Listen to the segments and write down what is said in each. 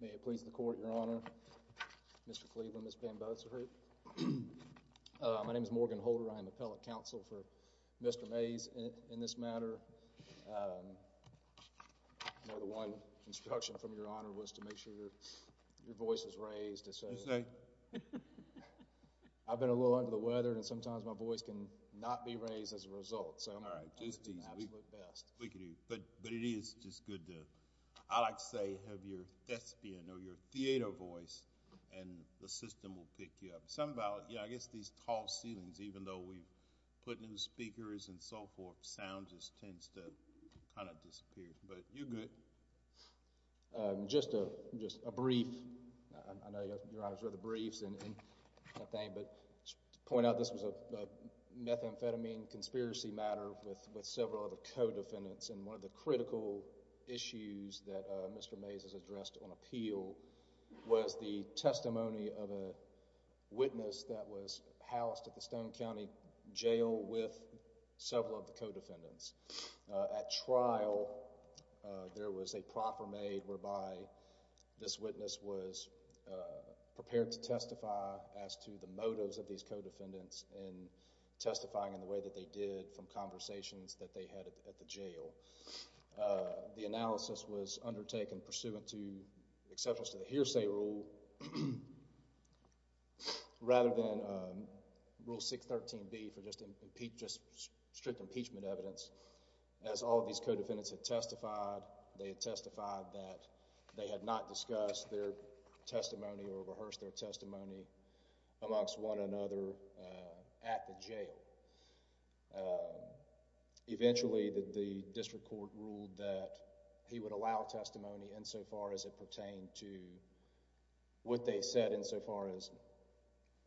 May it please the Court, Your Honor. Mr. Cleveland, Ms. Bamboza. My name is Morgan Holder. I am appellate counsel for Mr. Maes in this matter. One instruction from Your Honor was to make sure your voice is raised. I've been a little under the weather and sometimes my voice can not be raised as a result. But it is just good to, I like to say, have your thespian or your theater voice and the system will pick you up. I guess these tall ceilings, even though we put in speakers and so forth, sound just tends to kind of disappear. But you're good. Just a brief, I know Your Honor's read the briefs and that thing, but to point out this was a methamphetamine conspiracy matter with several of the co-defendants and one of the critical issues that Mr. Maes has addressed on appeal was the testimony of a witness that was housed at the Stone County Jail with several of the co-defendants. At trial, there was a proffer made whereby this witness was prepared to testify as to the evidence of the co-defendants and testifying in the way that they did from conversations that they had at the jail. The analysis was undertaken pursuant to exceptions to the hearsay rule rather than Rule 613B for just strict impeachment evidence. As all of these co-defendants had testified, they had testified that they had not discussed their testimony or rehearsed their testimony amongst one another at the jail. Eventually, the district court ruled that he would allow testimony insofar as it pertained to what they said insofar as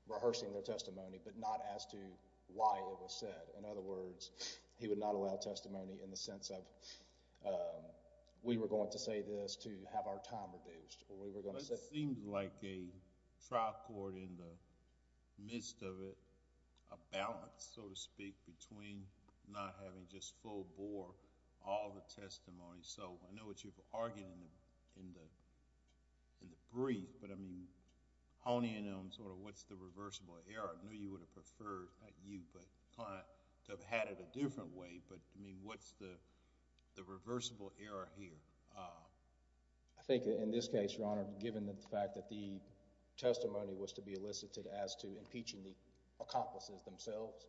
rehearsing their testimony, but not as to why it was said. In other words, he would not allow testimony in the sense of we were going to say this to have our time reduced or we were going to say... It seems like a trial court in the midst of it, a balance, so to speak, between not having just full bore all the testimony. I know what you've argued in the brief, but I mean honing in on sort of what's the reversible error. I know you would have preferred, not you, but client, to have had it a different way, but I mean what's the reversible error here? I think in this case, Your Honor, given the fact that the testimony was to be elicited as to impeaching the accomplices themselves,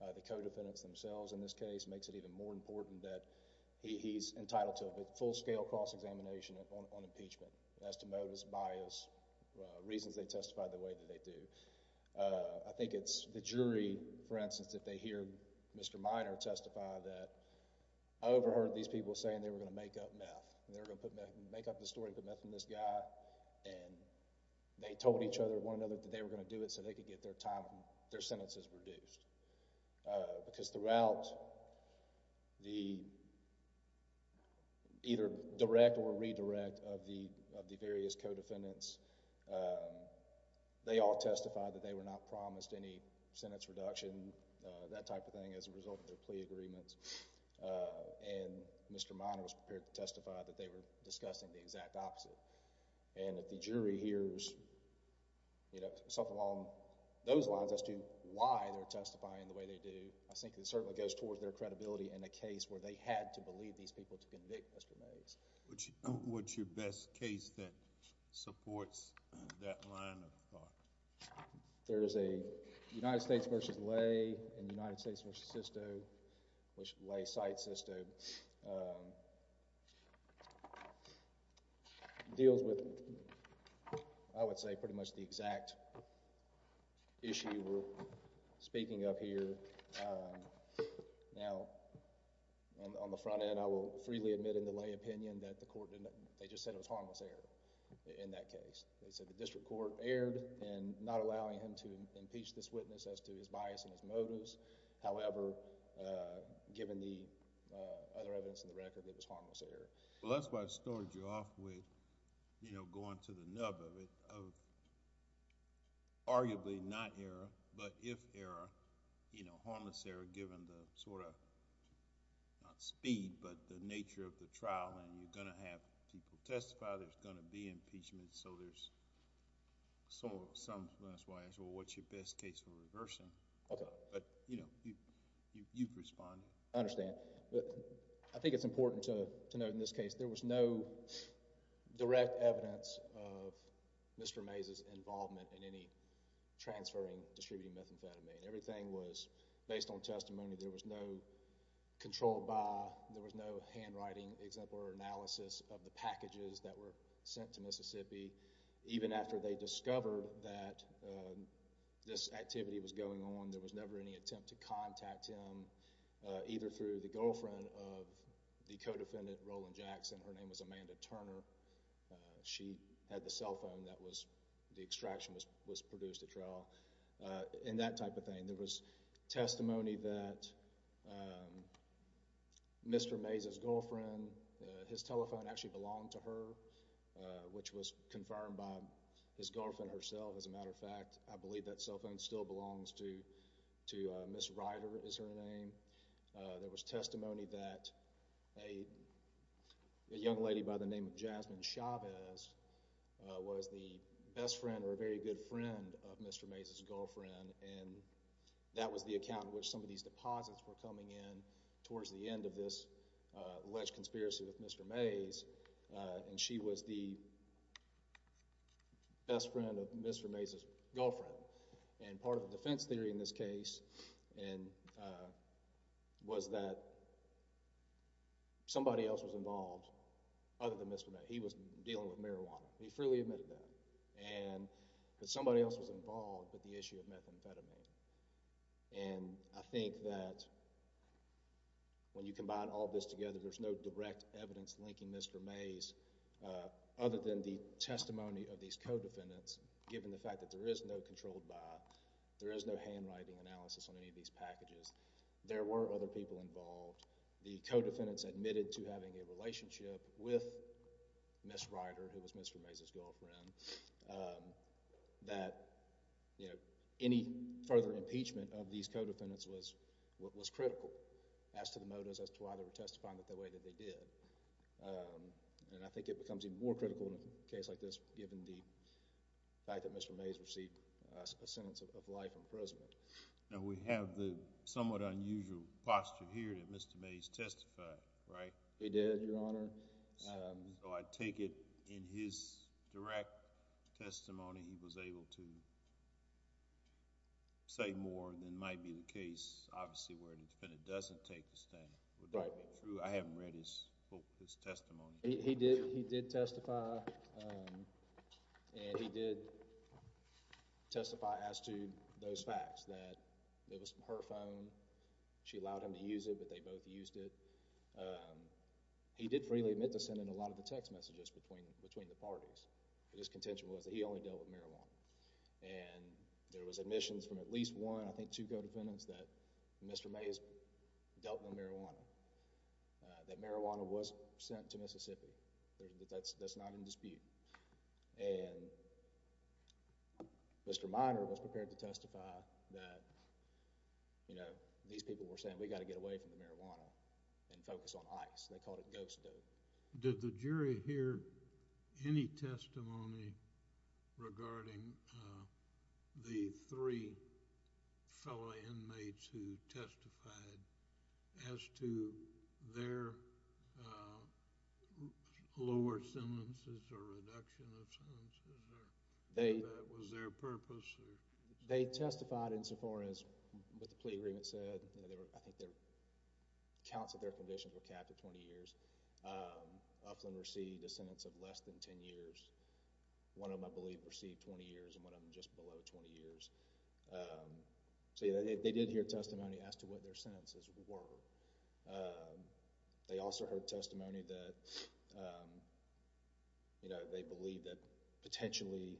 the co-defendants themselves in this case, makes it even more important that he's entitled to a full-scale cross-examination on impeachment as to motives, bias, reasons they testified the way that they do. I think it's the jury, for instance, if they hear Mr. Minor testify that I overheard these people saying they were going to make up the story, put meth in this guy, and they told each other, one another, that they were going to do it so they could get their sentences reduced because throughout the either direct or redirect of the various co-defendants, they all testified that they were not promised any sentence reduction, that type of thing, as a result of their plea agreements, and Mr. Minor was prepared to testify that they were discussing the exact opposite, and if the jury hears something along those lines as to why they're testifying the way they do, I think it certainly goes towards their credibility in a case where they had to believe these people to convict Mr. Mays. What's your best case that supports that line of thought? There is a United States v. Lay and United States v. Sisto, which Lay cites Sisto, deals with, I would say, pretty much the exact issue we're speaking of here. Now, on the front end, I will freely admit in the Lay opinion that the court, they just said it was harmless error in that case. They said the district court erred in not allowing him to impeach this witness as to his bias and his motives. However, given the other evidence in the record, it was harmless error. Well, that's why I started you off with going to the nub of it, of arguably not error, but if error, harmless error given the sort of, not speed, but the nature of the trial and you're going to have people testify, there's going to be impeachment, so there's some bias. Well, what's your best case for reversing? But, you know, you've responded. I understand. I think it's important to note in this case, there was no direct evidence of Mr. Mays' involvement in any transferring, distributing methamphetamine. Everything was based on testimony. There was no control by, there was no handwriting, example or analysis of the packages that were sent to Mississippi. Even after they discovered that this activity was going on, there was never any attempt to contact him, either through the girlfriend of the co-defendant, Roland Jackson. Her name was Amanda Turner. She had the cell phone that was, the extraction was produced at trial, and that type of thing. There was testimony that Mr. Mays' girlfriend, his telephone actually belonged to her, which was confirmed by his girlfriend herself. As a matter of fact, I believe that cell phone still belongs to Miss Ryder, is her name. There was testimony that a young lady by the name of Amanda Turner was the best friend, or a very good friend, of Mr. Mays' girlfriend, and that was the account in which some of these deposits were coming in towards the end of this alleged conspiracy with Mr. Mays, and she was the best friend of Mr. Mays' girlfriend. And part of the defense theory in this case was that somebody else was involved other than Mr. Mays. He was dealing with marijuana. He freely admitted that. And that somebody else was involved, but the issue of methamphetamine. And I think that when you combine all this together, there's no direct evidence linking Mr. Mays, other than the testimony of these co-defendants, given the fact that there is no controlled buy, there is no handwriting analysis on any of these packages. There were other people involved. The co-defendants admitted to having a relationship with Miss Ryder, who was Mr. Mays' girlfriend, that, you know, any further impeachment of these co-defendants was critical as to the motives as to why they were testifying the way that they did. And I think it becomes even more critical in a case like this, given the fact that Mr. Mays received a sentence of life imprisonment. Now, we have the somewhat unusual posture here that Mr. Mays testified, right? He did, Your Honor. So I take it in his direct testimony, he was able to say more than might be the case, obviously, where the defendant doesn't take the stand. Would that be true? I haven't read his testimony. He did testify, and he did testify as to those facts, that it was her phone, she allowed him to use it, but they both used it. He did freely admit to sending a lot of the text messages between the parties, but his contention was that he only dealt with marijuana. And there was admissions from at least one, I think two, co-defendants that Mr. Mays dealt with marijuana, that marijuana was sent to Mississippi. That's not in dispute. And Mr. Minor was prepared to testify that, you know, these people were saying, we've got to get away from the marijuana and focus on ICE. They called it ghost dope. Did the jury hear any testimony regarding the three fellow inmates who testified as to their lower sentences or reduction of sentences, or whether that was their purpose? They testified insofar as what the plea agreement said. I think the counts of their conditions were capped at 20 years. Uflin received a sentence of less than 10 years. One of them, I believe, received 20 years, and one of them just below 20 years. So, yeah, they did hear testimony as to what their sentences were. They also heard testimony that, you know, they believed that potentially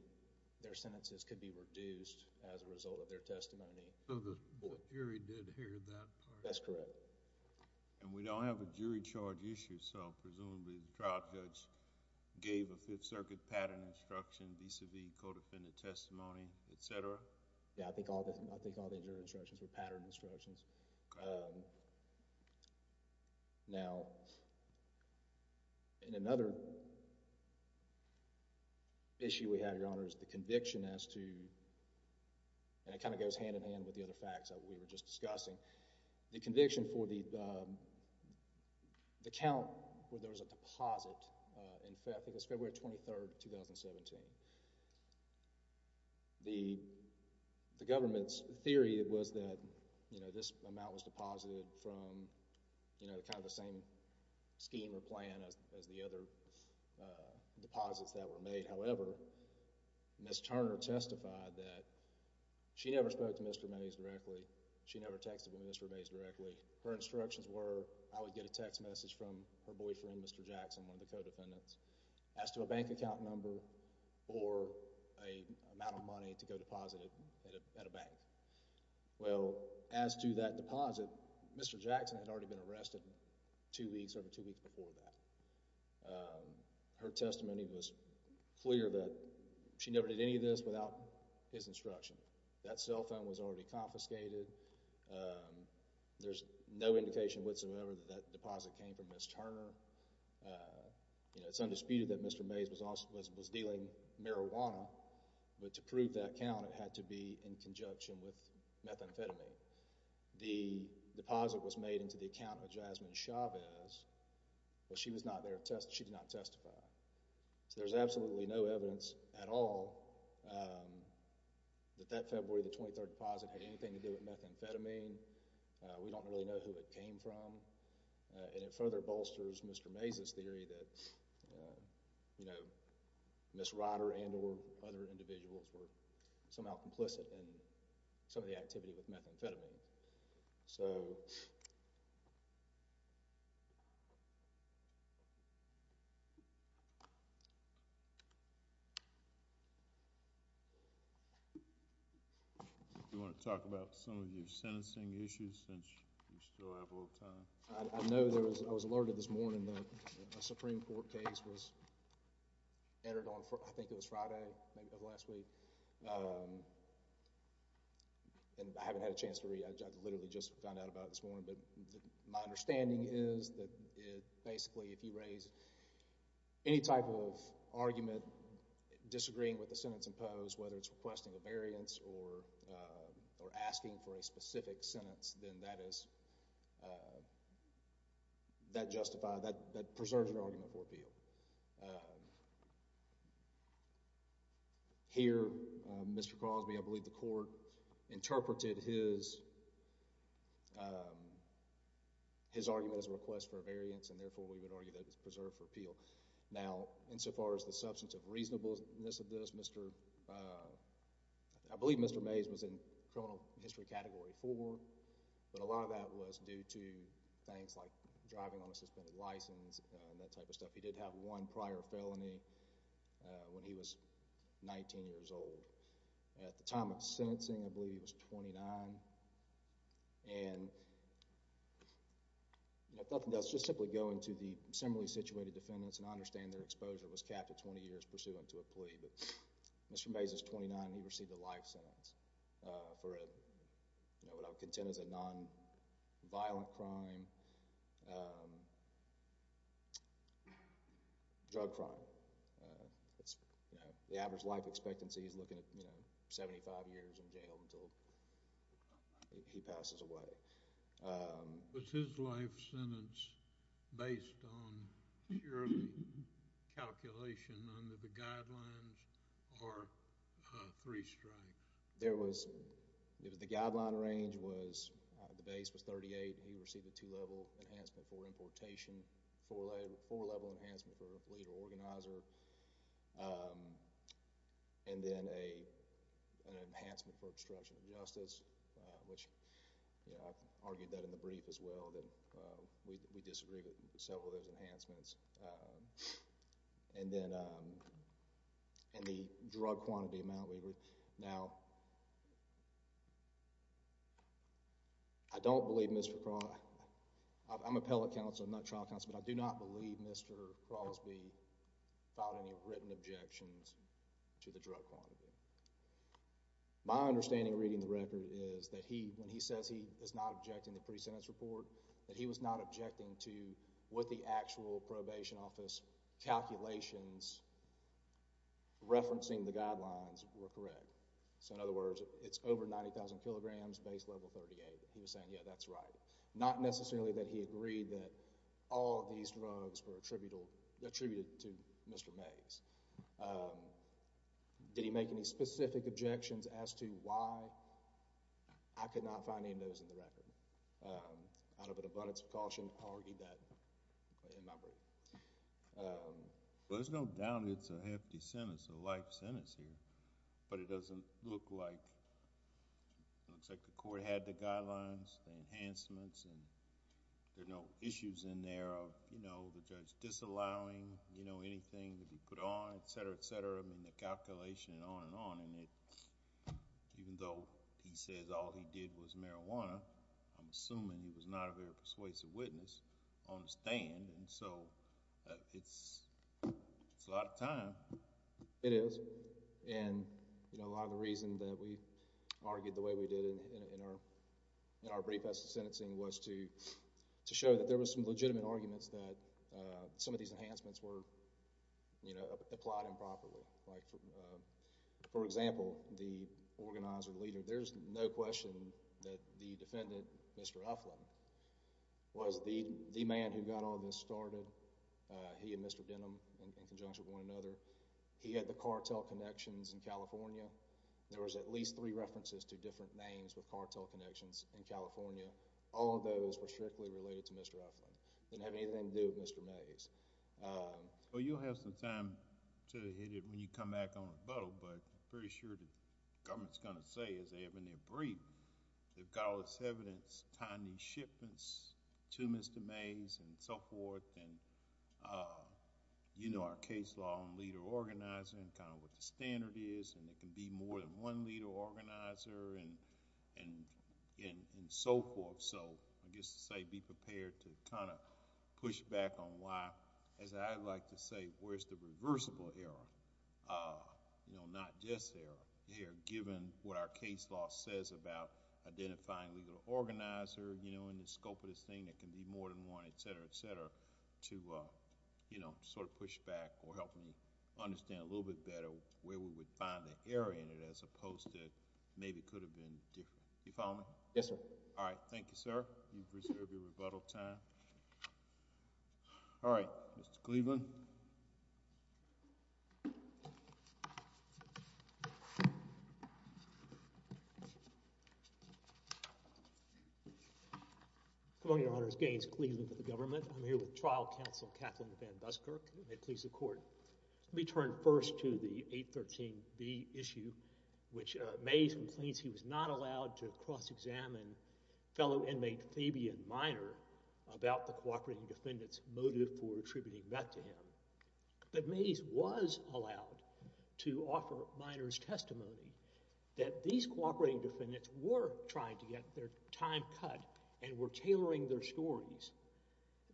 their sentences could be reduced as a result of their testimony. So the jury did hear that part? That's correct. And we don't have a jury charge issue, so presumably the trial judge gave a Fifth Circuit patent instruction vis-a-vis co-defendant testimony, et cetera? Yeah, I think all the jury instructions were patent instructions. Now, in another issue we have, Your Honor, is the conviction as to, and it kind of goes hand-in-hand with the other facts that we were just discussing, the conviction for the count where there was a deposit, in fact, I think it was February 23rd, 2017. The government's theory was that, you know, this amount was deposited from, you know, kind of the same scheme or plan as the other deposits that were made. However, Ms. Turner testified that she never spoke to Mr. Mays directly. She never texted Mr. Mays directly. Her instructions were I would get a text message from her boyfriend, Mr. Jackson, one of the co-defendants, as to a bank account number or an amount of money to go deposit at a bank. Well, as to that deposit, Mr. Jackson had already been arrested two weeks, over two weeks before that. Her testimony was clear that she never did any of this without his instruction. That cell phone was already confiscated. There's no indication whatsoever that that deposit came from Ms. Turner. You know, it's undisputed that Mr. Mays was dealing marijuana, but to prove that count, it had to be in conjunction with methamphetamine. The deposit was made into the account of Jasmine Chavez, but she was not there. She did not testify. So, there's absolutely no evidence at all that that February the 23rd deposit had anything to do with methamphetamine. We don't really know who it came from. And it further bolsters Mr. Mays' theory that, you know, Ms. Ryder and or other individuals were somehow complicit in some of the activity with methamphetamine. So, Do you want to talk about some of your sentencing issues since we still have a little time? I know there was, I was alerted this morning that a Supreme Court case was entered on, I think it was Friday, maybe of last week. And I haven't had a chance to read. I literally just found out about it this morning. But my understanding is that it basically, if you raise any type of argument, disagreeing with the sentence imposed, whether it's requesting a variance or asking for a specific sentence, then that is, that justifies, that preserves your argument for appeal. Here, Mr. Crosby, I believe the court interpreted his, his argument as a request for a variance and therefore we would argue that it's preserved for appeal. Now, insofar as the substance of reasonableness of this, Mr., I believe Mr. Mays was in criminal history category four. But a lot of that was due to things like driving on a suspended license and that type of stuff. He did have one prior felony when he was 19 years old. At the time of sentencing, I believe he was 29. And, you know, if nothing else, just simply going to the similarly situated defendants, and I understand their exposure was capped at 20 years pursuant to a plea, but Mr. Mays is 29. He received a life sentence for a, you know, what I would contend is a non-violent crime, drug crime. It's, you know, the average life expectancy is looking at, you know, 75 years in jail until he passes away. Was his life sentence based on purely calculation under the guidelines or three strikes? There was, the guideline range was, the base was 38. He received a two-level enhancement for importation, four-level enhancement for leader organizer, and then an enhancement for obstruction of justice, which, you know, I've argued that in the brief as well that we disagree with several of those I don't believe Mr. Crosby, I'm an appellate counsel, I'm not a trial counsel, but I do not believe Mr. Crosby filed any written objections to the drug quantity. My understanding reading the record is that he, when he says he is not objecting the pre-sentence report, that he was not objecting to what the actual probation office calculations referencing the guidelines were correct. So, in other words, it's over 90,000 kilograms, base level 38. He was saying, yeah, that's right. Not necessarily that he agreed that all of these drugs were attributed to Mr. Mays. Did he make any specific objections as to why I could not find any of those in the record? Out of an abundance of caution, I argued that in my brief. Well, there's no doubt it's a hefty sentence, a life sentence here, but it doesn't look like... it looks like the court had the guidelines, the enhancements, and there are no issues in there of, you know, the judge disallowing, you know, anything to be put on, et cetera, et cetera. I mean, the calculation and on and on. Even though he says all he did was marijuana, I'm assuming he was not a very persuasive witness on the stand. And so, it's a lot of time. It is. And, you know, a lot of the reason that we argued the way we did in our brief as to sentencing was to show that there were some legitimate arguments that some of these enhancements were, you know, applied improperly. Like, for example, the organizer, the leader, there's no question that the defendant, Mr. Uflin, was the man who got all this started. He and Mr. Denham, in conjunction with one another, he had the cartel connections in California. There was at least three references to different names with cartel connections in California. All of those were strictly related to Mr. Uflin. It didn't have anything to do with Mr. Mays. Well, you'll have some time to hit it when you come back on rebuttal, but I'm pretty sure the government's going to say, as they have in their gutless evidence, tying these shipments to Mr. Mays and so forth, and you know our case law on leader-organizer and kind of what the standard is, and it can be more than one leader-organizer and so forth. So, I guess to say, be prepared to kind of push back on why, as I like to say, where's the reversible error, not just error, given what our case law says about identifying leader-organizer in the scope of this thing, it can be more than one, et cetera, et cetera, to sort of push back or help me understand a little bit better where we would find the error in it as opposed to maybe it could have been different. You follow me? Yes, sir. All right. Thank you, sir. You've reserved your rebuttal time. All right, Mr. Cleveland. Good morning, Your Honors. Gaines Cleveland for the government. I'm here with trial counsel Kathleen Van Buskirk. May it please the Court. Let me turn first to the 813B issue, which Mays he was not allowed to cross-examine fellow inmate Fabian Minor about the cooperating defendants motive for attributing that to him. But Mays was allowed to offer Minor's testimony that these cooperating defendants were trying to get their time cut and were tailoring their stories.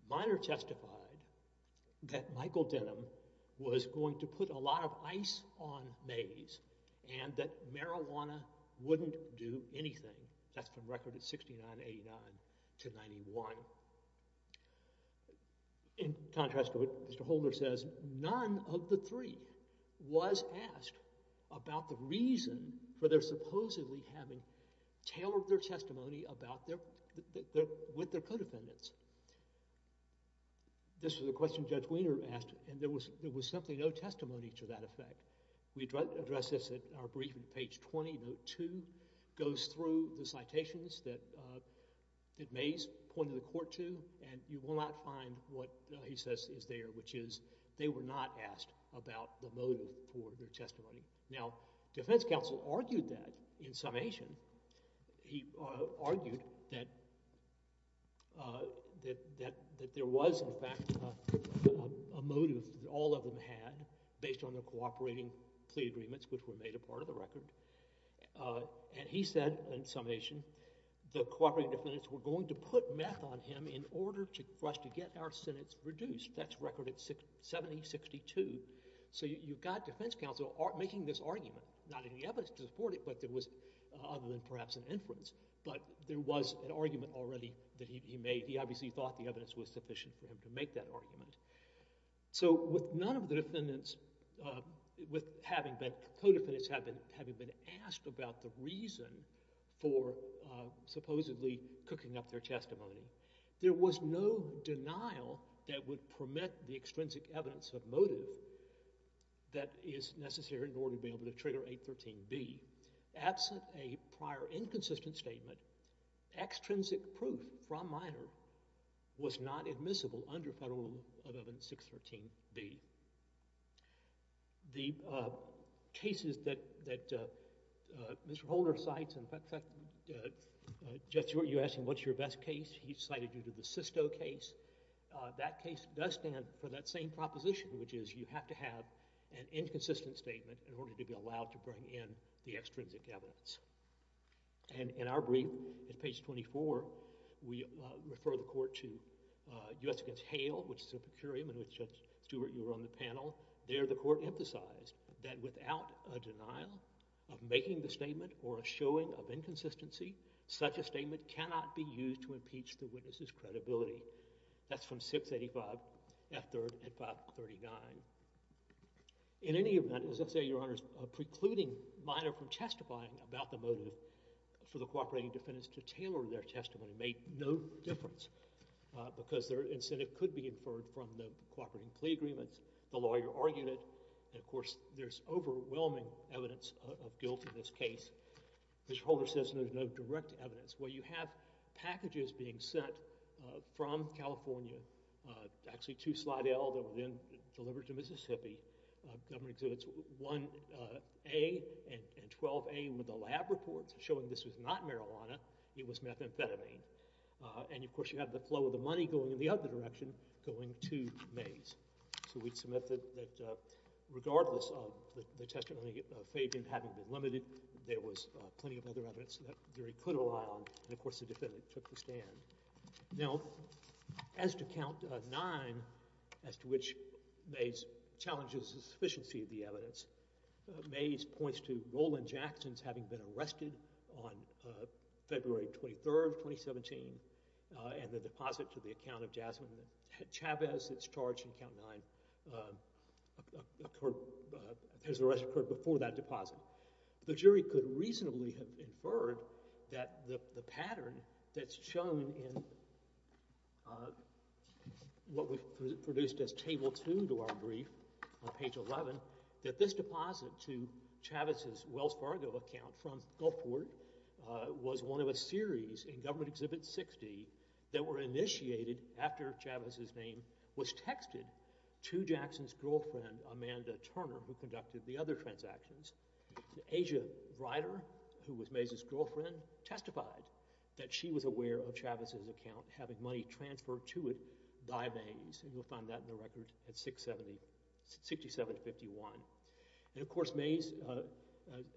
Minor testified that Michael Denham was going to put a lot of ice on Mays and that marijuana wouldn't do anything. That's from record at 6989 to 91. In contrast to what Mr. Holder says, none of the three was asked about the reason for their supposedly having tailored their testimony with their co-defendants. This was a question Judge Wiener asked and there was simply no two. It goes through the citations that Mays pointed the court to and you will not find what he says is there, which is they were not asked about the motive for their testimony. Now, defense counsel argued that in summation. He argued that there was in fact a motive that all of them had based on their cooperating plea agreements, which were made a part of the record. And he said, in summation, the cooperating defendants were going to put meth on him in order for us to get our sentence reduced. That's record at 7062. So you've got defense counsel making this argument. Not any evidence to support it, but there was, other than perhaps an inference, but there was an argument already that he made. He obviously thought the evidence was sufficient for him to make that argument. So with none of the defendants, with having been, co-defendants having been asked about the reason for supposedly cooking up their testimony, there was no denial that would permit the extrinsic evidence of motive that is necessary in order to be able to trigger 813B. Absent a prior inconsistent statement, extrinsic proof from Mayer was not admissible under Federal 11613B. The cases that Mr. Holder cites, in fact, Jeff, you asked him what's your best case. He cited you to the Sisto case. That case does stand for that same proposition, which is you have to have an inconsistent statement in order to be allowed to bring in the extrinsic evidence. And in our brief, at page 24, we refer the court to U.S. against Hale, which is a per curiam in which, Judge Stewart, you were on the panel. There the court emphasized that without a denial of making the statement or a showing of inconsistency, such a statement cannot be used to impeach the witness's credibility. That's from 685 F. 3rd and 539. In any event, as I say, Your Honors, precluding Mayer from testifying about the motive for the cooperating defendants to tailor their testimony made no difference because their incentive could be inferred from the cooperating plea agreements. The lawyer argued it. And of course, there's overwhelming evidence of guilt in this case. Mr. Holder says there's no direct evidence. Well, you have packages being sent from California, actually to Slidell that were then delivered to Mississippi. Governor exhibits 1A and 12A with the lab reports showing this was not marijuana. It was methamphetamine. And of course, you have the flow of the money going in the other direction, going to Mays. So we'd submit that regardless of the testimony of Fabian having been limited, there was plenty of other evidence that he could rely on. And of course, the defendant took the stand. Now, as to Count 9, as to which Mays challenges the sufficiency of the evidence, Mays points to Roland Jackson's having been arrested on February 23, 2017, and the deposit to the account of Jasmine Chavez that's charged in Count 9 has occurred before that deposit. The jury could reasonably have inferred that the pattern that's shown in what we've produced as Table 2 to our brief on page 11, that this deposit to Chavez's Wells Fargo account from Gulfport was one of a series in Government Exhibit 60 that were initiated after Chavez's name was texted to Jackson's girlfriend, Amanda Turner, who conducted the other transactions. Asia Ryder, who was Mays' girlfriend, testified that she was aware of Chavez's account having money transferred to it by Mays. And you'll find that in the record at 6751. And of course, Mays,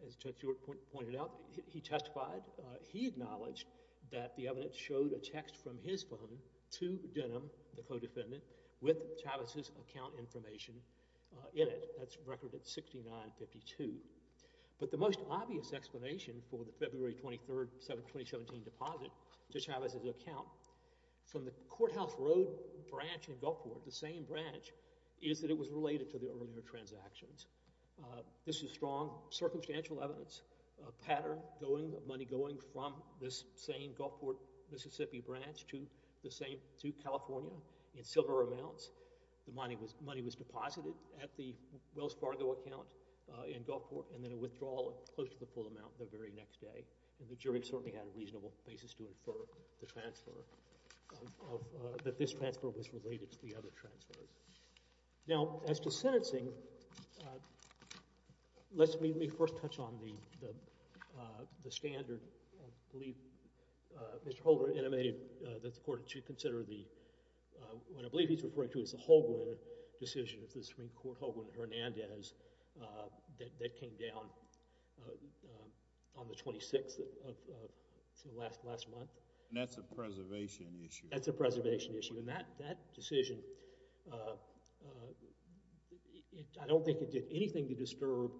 as Judge Stewart pointed out, he testified, he acknowledged that the evidence showed a text from his phone to Denham, the co-defendant, with Chavez's account information in it. That's record at 6952. But the most obvious explanation for the February 23, 2017 deposit to Chavez's account from the Courthouse Road branch in Gulfport, the same branch, is that it was related to the earlier transactions. This is strong circumstantial evidence, a pattern going, money going from this same Gulfport, Mississippi branch to California in silver amounts. The money was deposited at the Wells Fargo account in Gulfport and then a withdrawal close to the full amount the very next day. And the jury certainly had a reasonable basis to infer the transfer, that this transfer was related to the other transfers. Now, as to sentencing, let me first touch on the standard, I believe, Mr. Holdren intimated that the Court should consider the, what I believe he's referring to is the Holgren decision of the Supreme Court, Holgren-Hernandez, that came down on the 26th of, last month. And that's a preservation issue. That's a preservation issue. And that decision, I don't think it did anything to disturb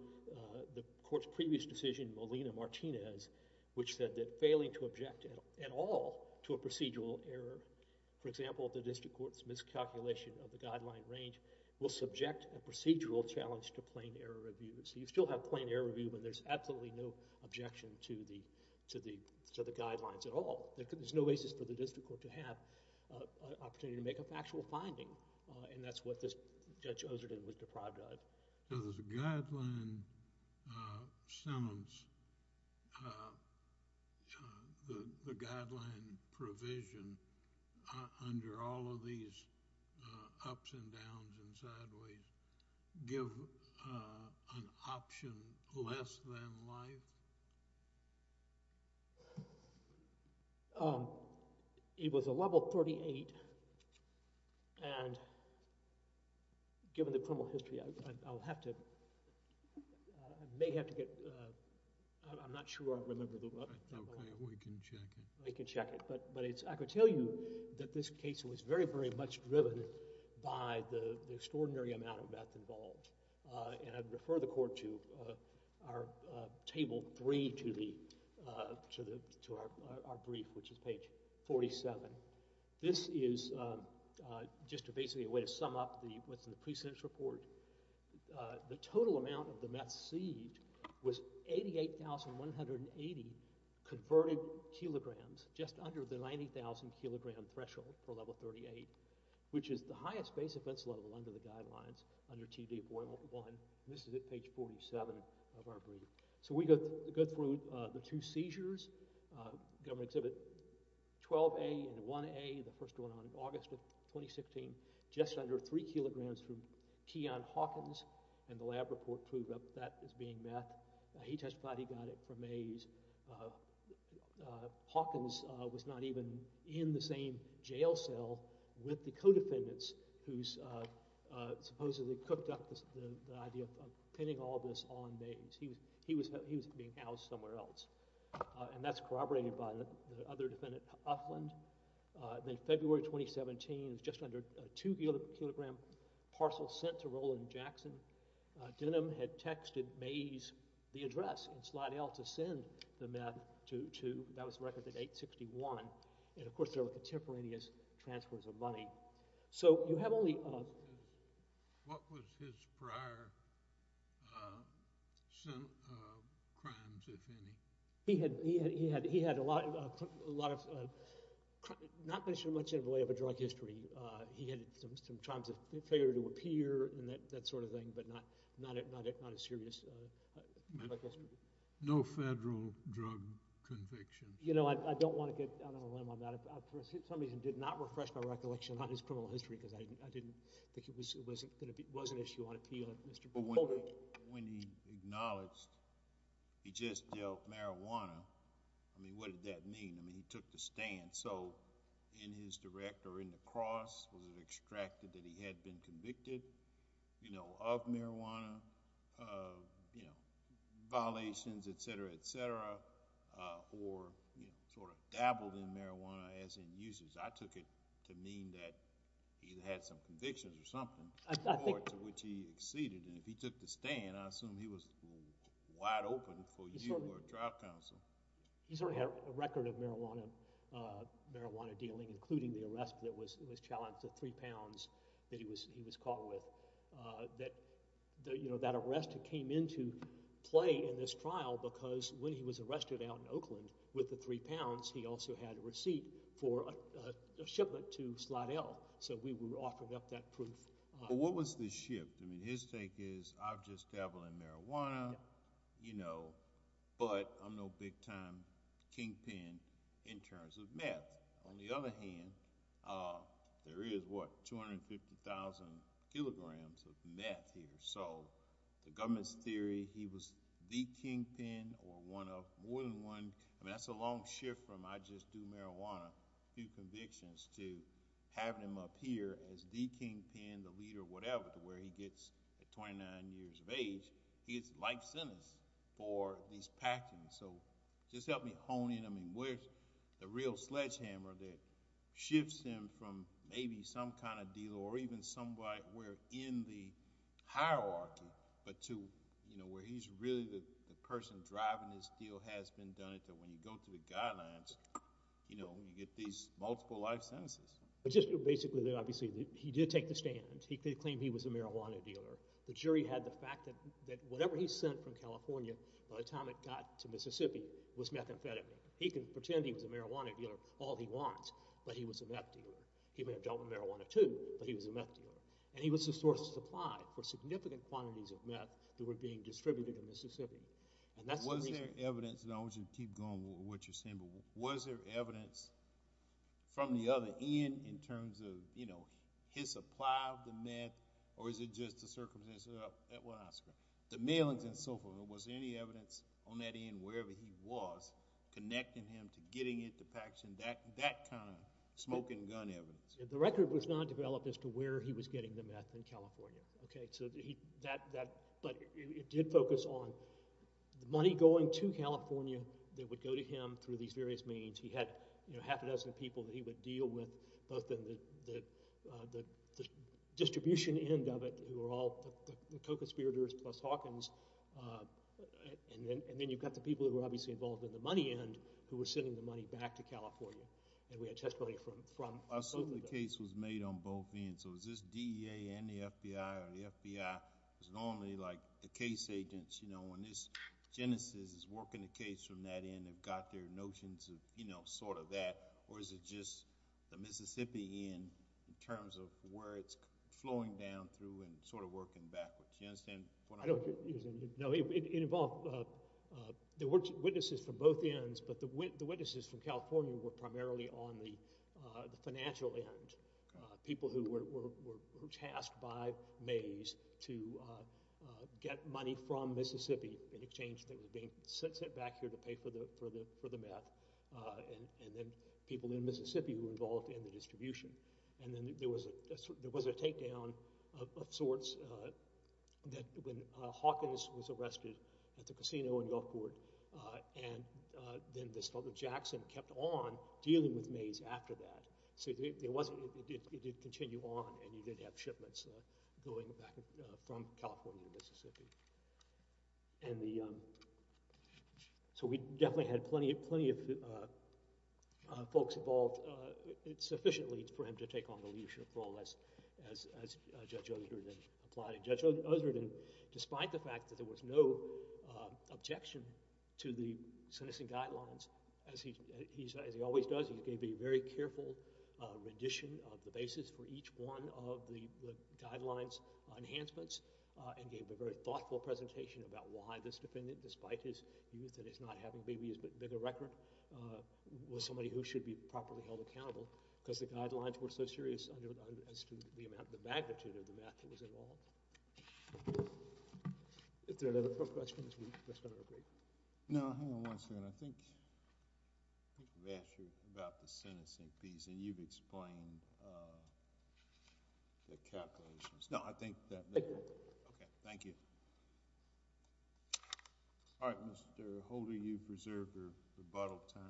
the Court's previous decision, Molina-Martinez, which said that failing to object at all to a procedural error, for example, the District Court's miscalculation of the guideline range will subject a procedural challenge to plain error review. So you still have plain error review, but there's absolutely no objection to the guidelines at all. There's no basis for the District Court to have an opportunity to make a factual finding. And that's what this Judge Ozerton was deprived of. Does the guideline sentence, the guideline provision, under all of these ups and downs and sideways, give an option less than life? It was a level 38. And given the criminal history, I'll have to, I may have to get, I'm not sure I remember the level. Okay, we can check it. We can check it. But it's, I can tell you that this case was very, very much driven by the extraordinary amount of Table 3 to the, to our brief, which is page 47. This is just basically a way to sum up what's in the precedence report. The total amount of the meth sieved was 88,180 converted kilograms, just under the 90,000 kilogram threshold for level 38, which is the highest base offense level under the guidelines, under TD-401. This is at page 47 of our brief. So we go through the two seizures, government exhibit 12A and 1A, the first one on August of 2016, just under three kilograms from Keyon Hawkins, and the lab report proved that that is being meth. He testified he got it from Mays. Hawkins was not even in the same jail cell with the co-defendants who supposedly cooked up the idea of pinning all this on Mays. He was being housed somewhere else, and that's corroborated by the other defendant, Uffland. In February 2017, it was just under two kilogram parcels sent to Roland Jackson. Denham had texted Mays the address in Slidell to send the meth to, that was the record, to 861, and of course there were contemporaneous transfers of money. So you have only... What was his prior crimes, if any? He had a lot of, not much in the way of a drug history. He had some crimes of failure to appear and that sort of thing, but not a serious... No federal drug conviction. You know, I don't want to get out of the limb on that. For some reason, I did not refresh my recollection on his criminal history because I didn't think it was an issue on appeal. When he acknowledged he just dealt marijuana, I mean, what did that mean? I mean, he took the stand. So in his direct, or in the cross, was it extracted that he had been convicted of marijuana violations, et cetera, et cetera, or sort of dabbled in marijuana as in uses? I took it to mean that he had some convictions or something to which he acceded, and if he took the stand, I assume he was wide open for you or a trial counsel. He certainly had a record of marijuana dealing, including the arrest that was challenged to three pounds that he was caught with. That arrest came into play in this trial because when he was arrested out in Oakland with the three pounds, he also had a receipt for a shipment to Slidell, so we were offering up that proof. But what was the shift? I mean, his take is, I've just dabbled in marijuana, you know, but I'm no big-time kingpin in terms of meth. On the other hand, there is, what, 150,000 kilograms of meth here, so the government's theory he was the kingpin or one of more than one, I mean, that's a long shift from I just do marijuana, a few convictions, to having him up here as the kingpin, the leader, whatever, to where he gets at 29 years of age, he gets life sentence for these packings. So just help me hone in, I mean, where's the real sledgehammer that or even somewhere where in the hierarchy, but to, you know, where he's really the person driving this deal has been done it, that when you go to the guidelines, you know, you get these multiple life sentences. But just basically, obviously, he did take the stand. He claimed he was a marijuana dealer. The jury had the fact that whatever he sent from California by the time it got to Mississippi was methamphetamine. He can pretend he was a marijuana dealer all he wants, but he was a meth dealer. He may have dealt with marijuana too, but he was a meth dealer. And he was the source of supply for significant quantities of meth that were being distributed in Mississippi. And was there evidence, and I want you to keep going with what you're saying, but was there evidence from the other end in terms of, you know, his supply of the meth, or is it just the circumstances? The mailings and so forth, was there any evidence on that end, wherever he was, connecting him to getting it to Paxson, that kind of smoking gun evidence? The record was not developed as to where he was getting the meth in California, okay? So that, but it did focus on the money going to California that would go to him through these various means. He had, you know, half a dozen people that he would deal with, both in the distribution end of it, who are all the co-conspirators plus Hawkins, uh, and then, and then you've got the people who were obviously involved in the money end, who were sending the money back to California, and we had testimony from, from both of them. I assume the case was made on both ends, so is this DEA and the FBI, or the FBI, is normally like the case agents, you know, when this genesis is working the case from that end, have got their notions of, you know, sort of that, or is it just the Mississippi end, in terms of where it's flowing down through and sort of working backwards, you understand? I don't, no, it involved, uh, uh, there were witnesses from both ends, but the witnesses from California were primarily on the, uh, the financial end, uh, people who were, were, were tasked by Mays to, uh, uh, get money from Mississippi in exchange that was being sent back here to pay for the, for the, for the meth, uh, and, and then people in Mississippi who were involved in the distribution, and then there was a, there was a takedown of sorts, uh, that when, uh, Hawkins was arrested at the casino in York Court, uh, and, uh, then this fellow Jackson kept on dealing with Mays after that, so there, there wasn't, it, it, it did continue on, and you did have shipments, uh, going back, uh, from California to Mississippi. And the, um, so we definitely had plenty, plenty of, uh, uh, folks involved, uh, sufficiently for him to take on the leadership role as, as, uh, Judge Osreden applied. Judge Osreden, despite the fact that there was no, uh, objection to the sentencing guidelines, as he, he's, as he always does, he gave a very careful, uh, rendition of the basis for each one of the, the guidelines enhancements, uh, and gave a very thoughtful presentation about why this defendant, despite his youth and his not having maybe as big a record, uh, was somebody who should be properly held accountable, because the guidelines were so serious, uh, as to the amount, the magnitude of the math that was involved. If there are no further questions, we're just going to break. No, hang on one second. I think, I think I've asked you about the sentencing piece, and you've explained, uh, the calculations. No, I think that, okay, thank you. All right, Mr. Holder, you've preserved your rebuttal time.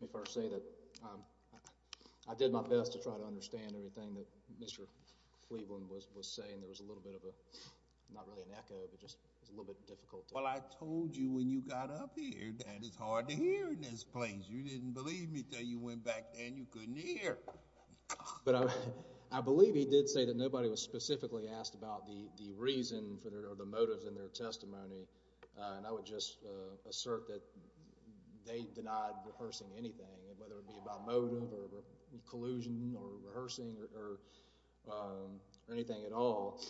Let me first say that, um, I, I did my best to try to understand everything that Mr. Cleveland was, was saying. There was a little bit of a, not really an echo, but just, it was a little bit difficult. Well, I told you when you got up here that it's hard to hear in this place. You didn't believe me until you went back and you couldn't hear. But I, I believe he did say that nobody was specifically asked about the, the reason for, or the motives in their testimony. Uh, and I would just, uh, assert that they denied rehearsing anything, whether it be about motive or collusion or rehearsing or, or, um, or anything at all.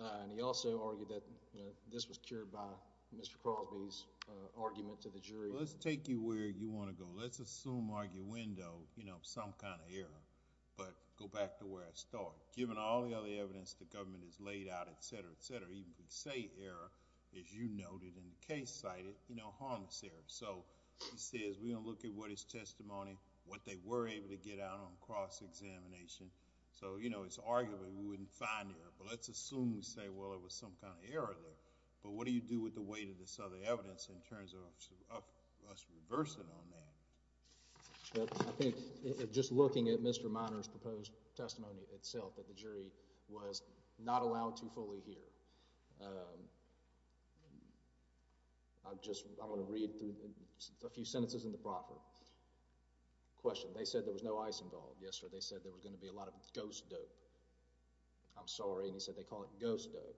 Uh, and he also argued that, you know, this was cured by Mr. Crosby's, uh, argument to the jury. Well, let's take you where you want to go. Let's assume arguendo, you know, some kind of error, but go back to where I start. Given all the other evidence the government has laid out, et cetera, et cetera, even if we say error, as you noted in the case cited, you know, harmless error. So he says, we're going to look at what his testimony, what they were able to get out on cross-examination. So, you know, it's arguably we wouldn't find error, but let's assume we say, well, it was some kind of error there. But what do you do with the weight of this other evidence in terms of us reversing on that? I think just looking at Mr. Minor's proposed testimony itself, that the jury was not allowed to fully hear. Um, I'm just, I'm going to read through a few sentences in the proffer. Question, they said there was no ice involved. Yes, sir. They said there was going to be a lot of ghost dope. I'm sorry. And he said they call it ghost dope.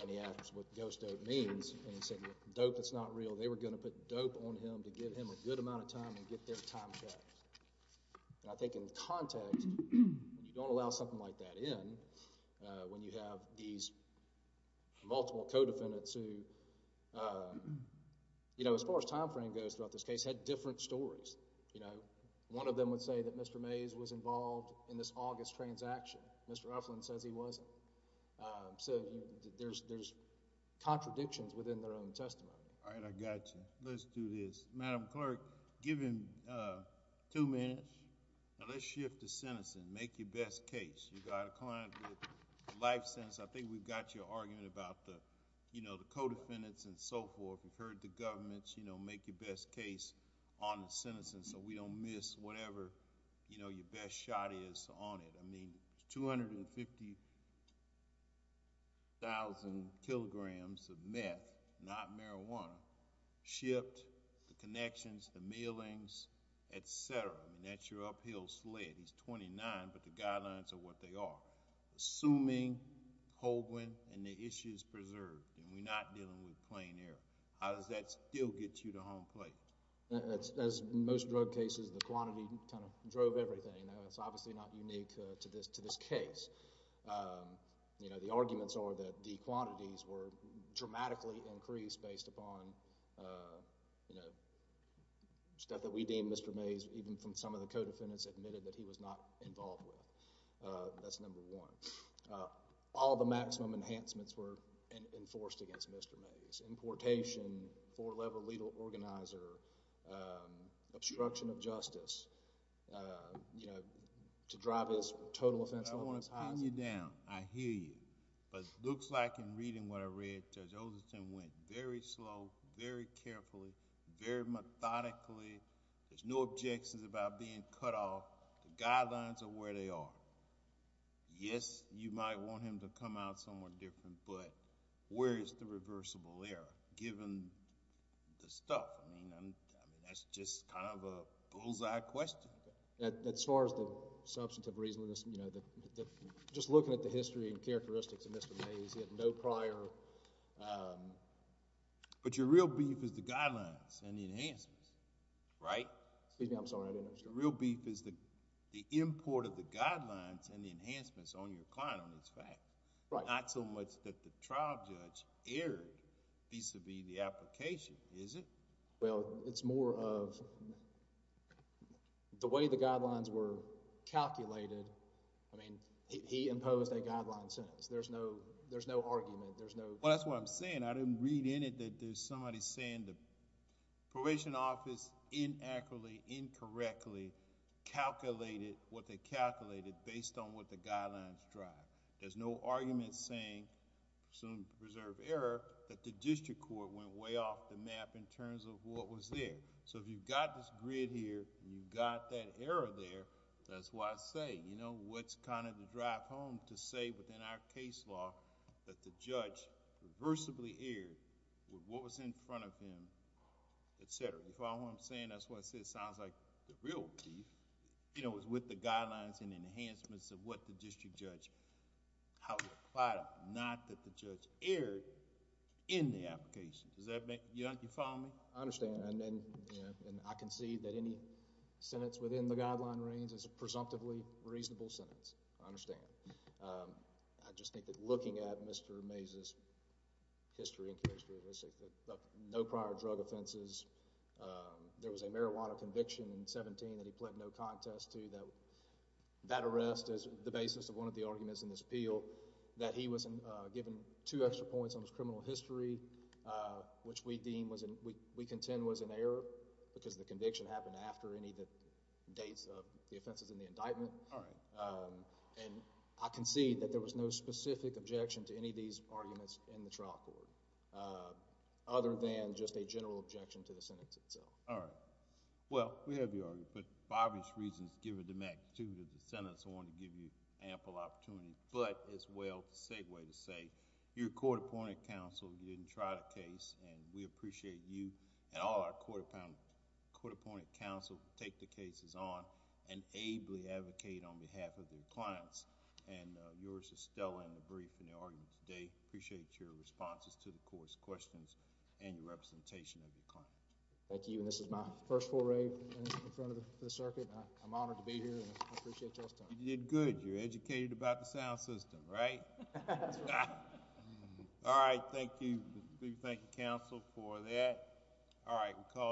And he asked what ghost dope means. And he said with dope that's not real, they were going to put dope on him to give him a good amount of time and get their time back. And I think in context, when you don't allow something like that in, uh, when you have these multiple co-defendants who, uh, you know, as far as time frame goes throughout this case, had different stories. You know, one of them would say that Mr. Mays was involved in this August transaction. Mr. Mays was involved in that. Um, so there's, there's contradictions within their own testimony. All right, I got you. Let's do this. Madam Clerk, give him, uh, two minutes. Now let's shift to sentencing. Make your best case. You've got a client with a life sentence. I think we've got your argument about the, you know, the co-defendants and so forth. We've heard the government, you know, make your best case on the sentencing so we don't miss whatever, you know, your best shot is on it. I mean, 250,000 kilograms of meth, not marijuana, shipped, the connections, the mailings, et cetera. I mean, that's your uphill sled. He's 29, but the guidelines are what they are. Assuming Holguin and the issue is preserved, and we're not dealing with plain error, how does that still get you to home plate? As most drug cases, the quantity kind of drove everything. You know, it's obviously not unique to this, to this case. Um, you know, the arguments are that the quantities were dramatically increased based upon, uh, you know, stuff that we deem Mr. Mays, even from some of the co-defendants admitted that he was not involved with. Uh, that's number one. All the maximum enhancements were enforced against Mr. Mays. Importation, four-level legal organizer, um, obstruction of justice, uh, you know, to drive his total offense. I don't want to pin you down. I hear you. But it looks like in reading what I read, Judge Olsen went very slow, very carefully, very methodically. There's no objections about being cut off. The guidelines are where they are. Yes, you might want him to come out somewhere different, but where is the reversible error, given the stuff? I mean, that's just kind of a bullseye question. As far as the substantive reasonableness, you know, just looking at the history and characteristics of Mr. Mays, he had no prior, um, but your real beef is the guidelines and the enhancements, right? Excuse me, I'm sorry, I didn't understand. Your real beef is the import of the guidelines and the enhancements on your client on this fact. Right. Not so much that the trial judge erred vis-à-vis the application, is it? Well, it's more of the way the guidelines were calculated. I mean, he imposed a guideline sentence. There's no, there's no argument. There's no... Well, that's what I'm saying. I didn't read in it that there's somebody saying the Provision Office inaccurately, incorrectly calculated what they calculated based on what the guidelines drive. There's no argument saying, presumed to preserve error, that the district court went way off the map in terms of what was there. So, if you've got this grid here and you've got that error there, that's why I say, you know, what's kind of the drive home to say within our case law that the judge reversibly erred with what was in front of him, et cetera. You follow what I'm saying? That's why I say it with the guidelines and enhancements of what the district judge... how he applied them, not that the judge erred in the application. Does that make... do you follow me? I understand. And then, you know, I can see that any sentence within the guideline range is a presumptively reasonable sentence. I understand. I just think that looking at Mr. Mays' history and case jurisdiction, no prior drug offenses, there was a marijuana conviction in contest to that arrest as the basis of one of the arguments in this appeal, that he was given two extra points on his criminal history, which we deem was... we contend was an error because the conviction happened after any of the dates of the offenses in the indictment. And I concede that there was no specific objection to any of these arguments in the trial court, other than just a general objection to the sentence itself. All right. Well, we have your argument. For obvious reasons, given the magnitude of the sentence, I want to give you ample opportunity, but as well, a segue to say, your court-appointed counsel didn't try the case, and we appreciate you and all our court-appointed counsel take the cases on and ably advocate on behalf of their clients. And yours is still in the brief in the argument today. I appreciate your responses to the court's questions and your representation of your client. Thank you, and this is my first foray in front of the circuit. I'm honored to be here, and I appreciate y'all's time. You did good. You're educated about the sound system, right? All right. Thank you. Thank you, counsel, for that. All right.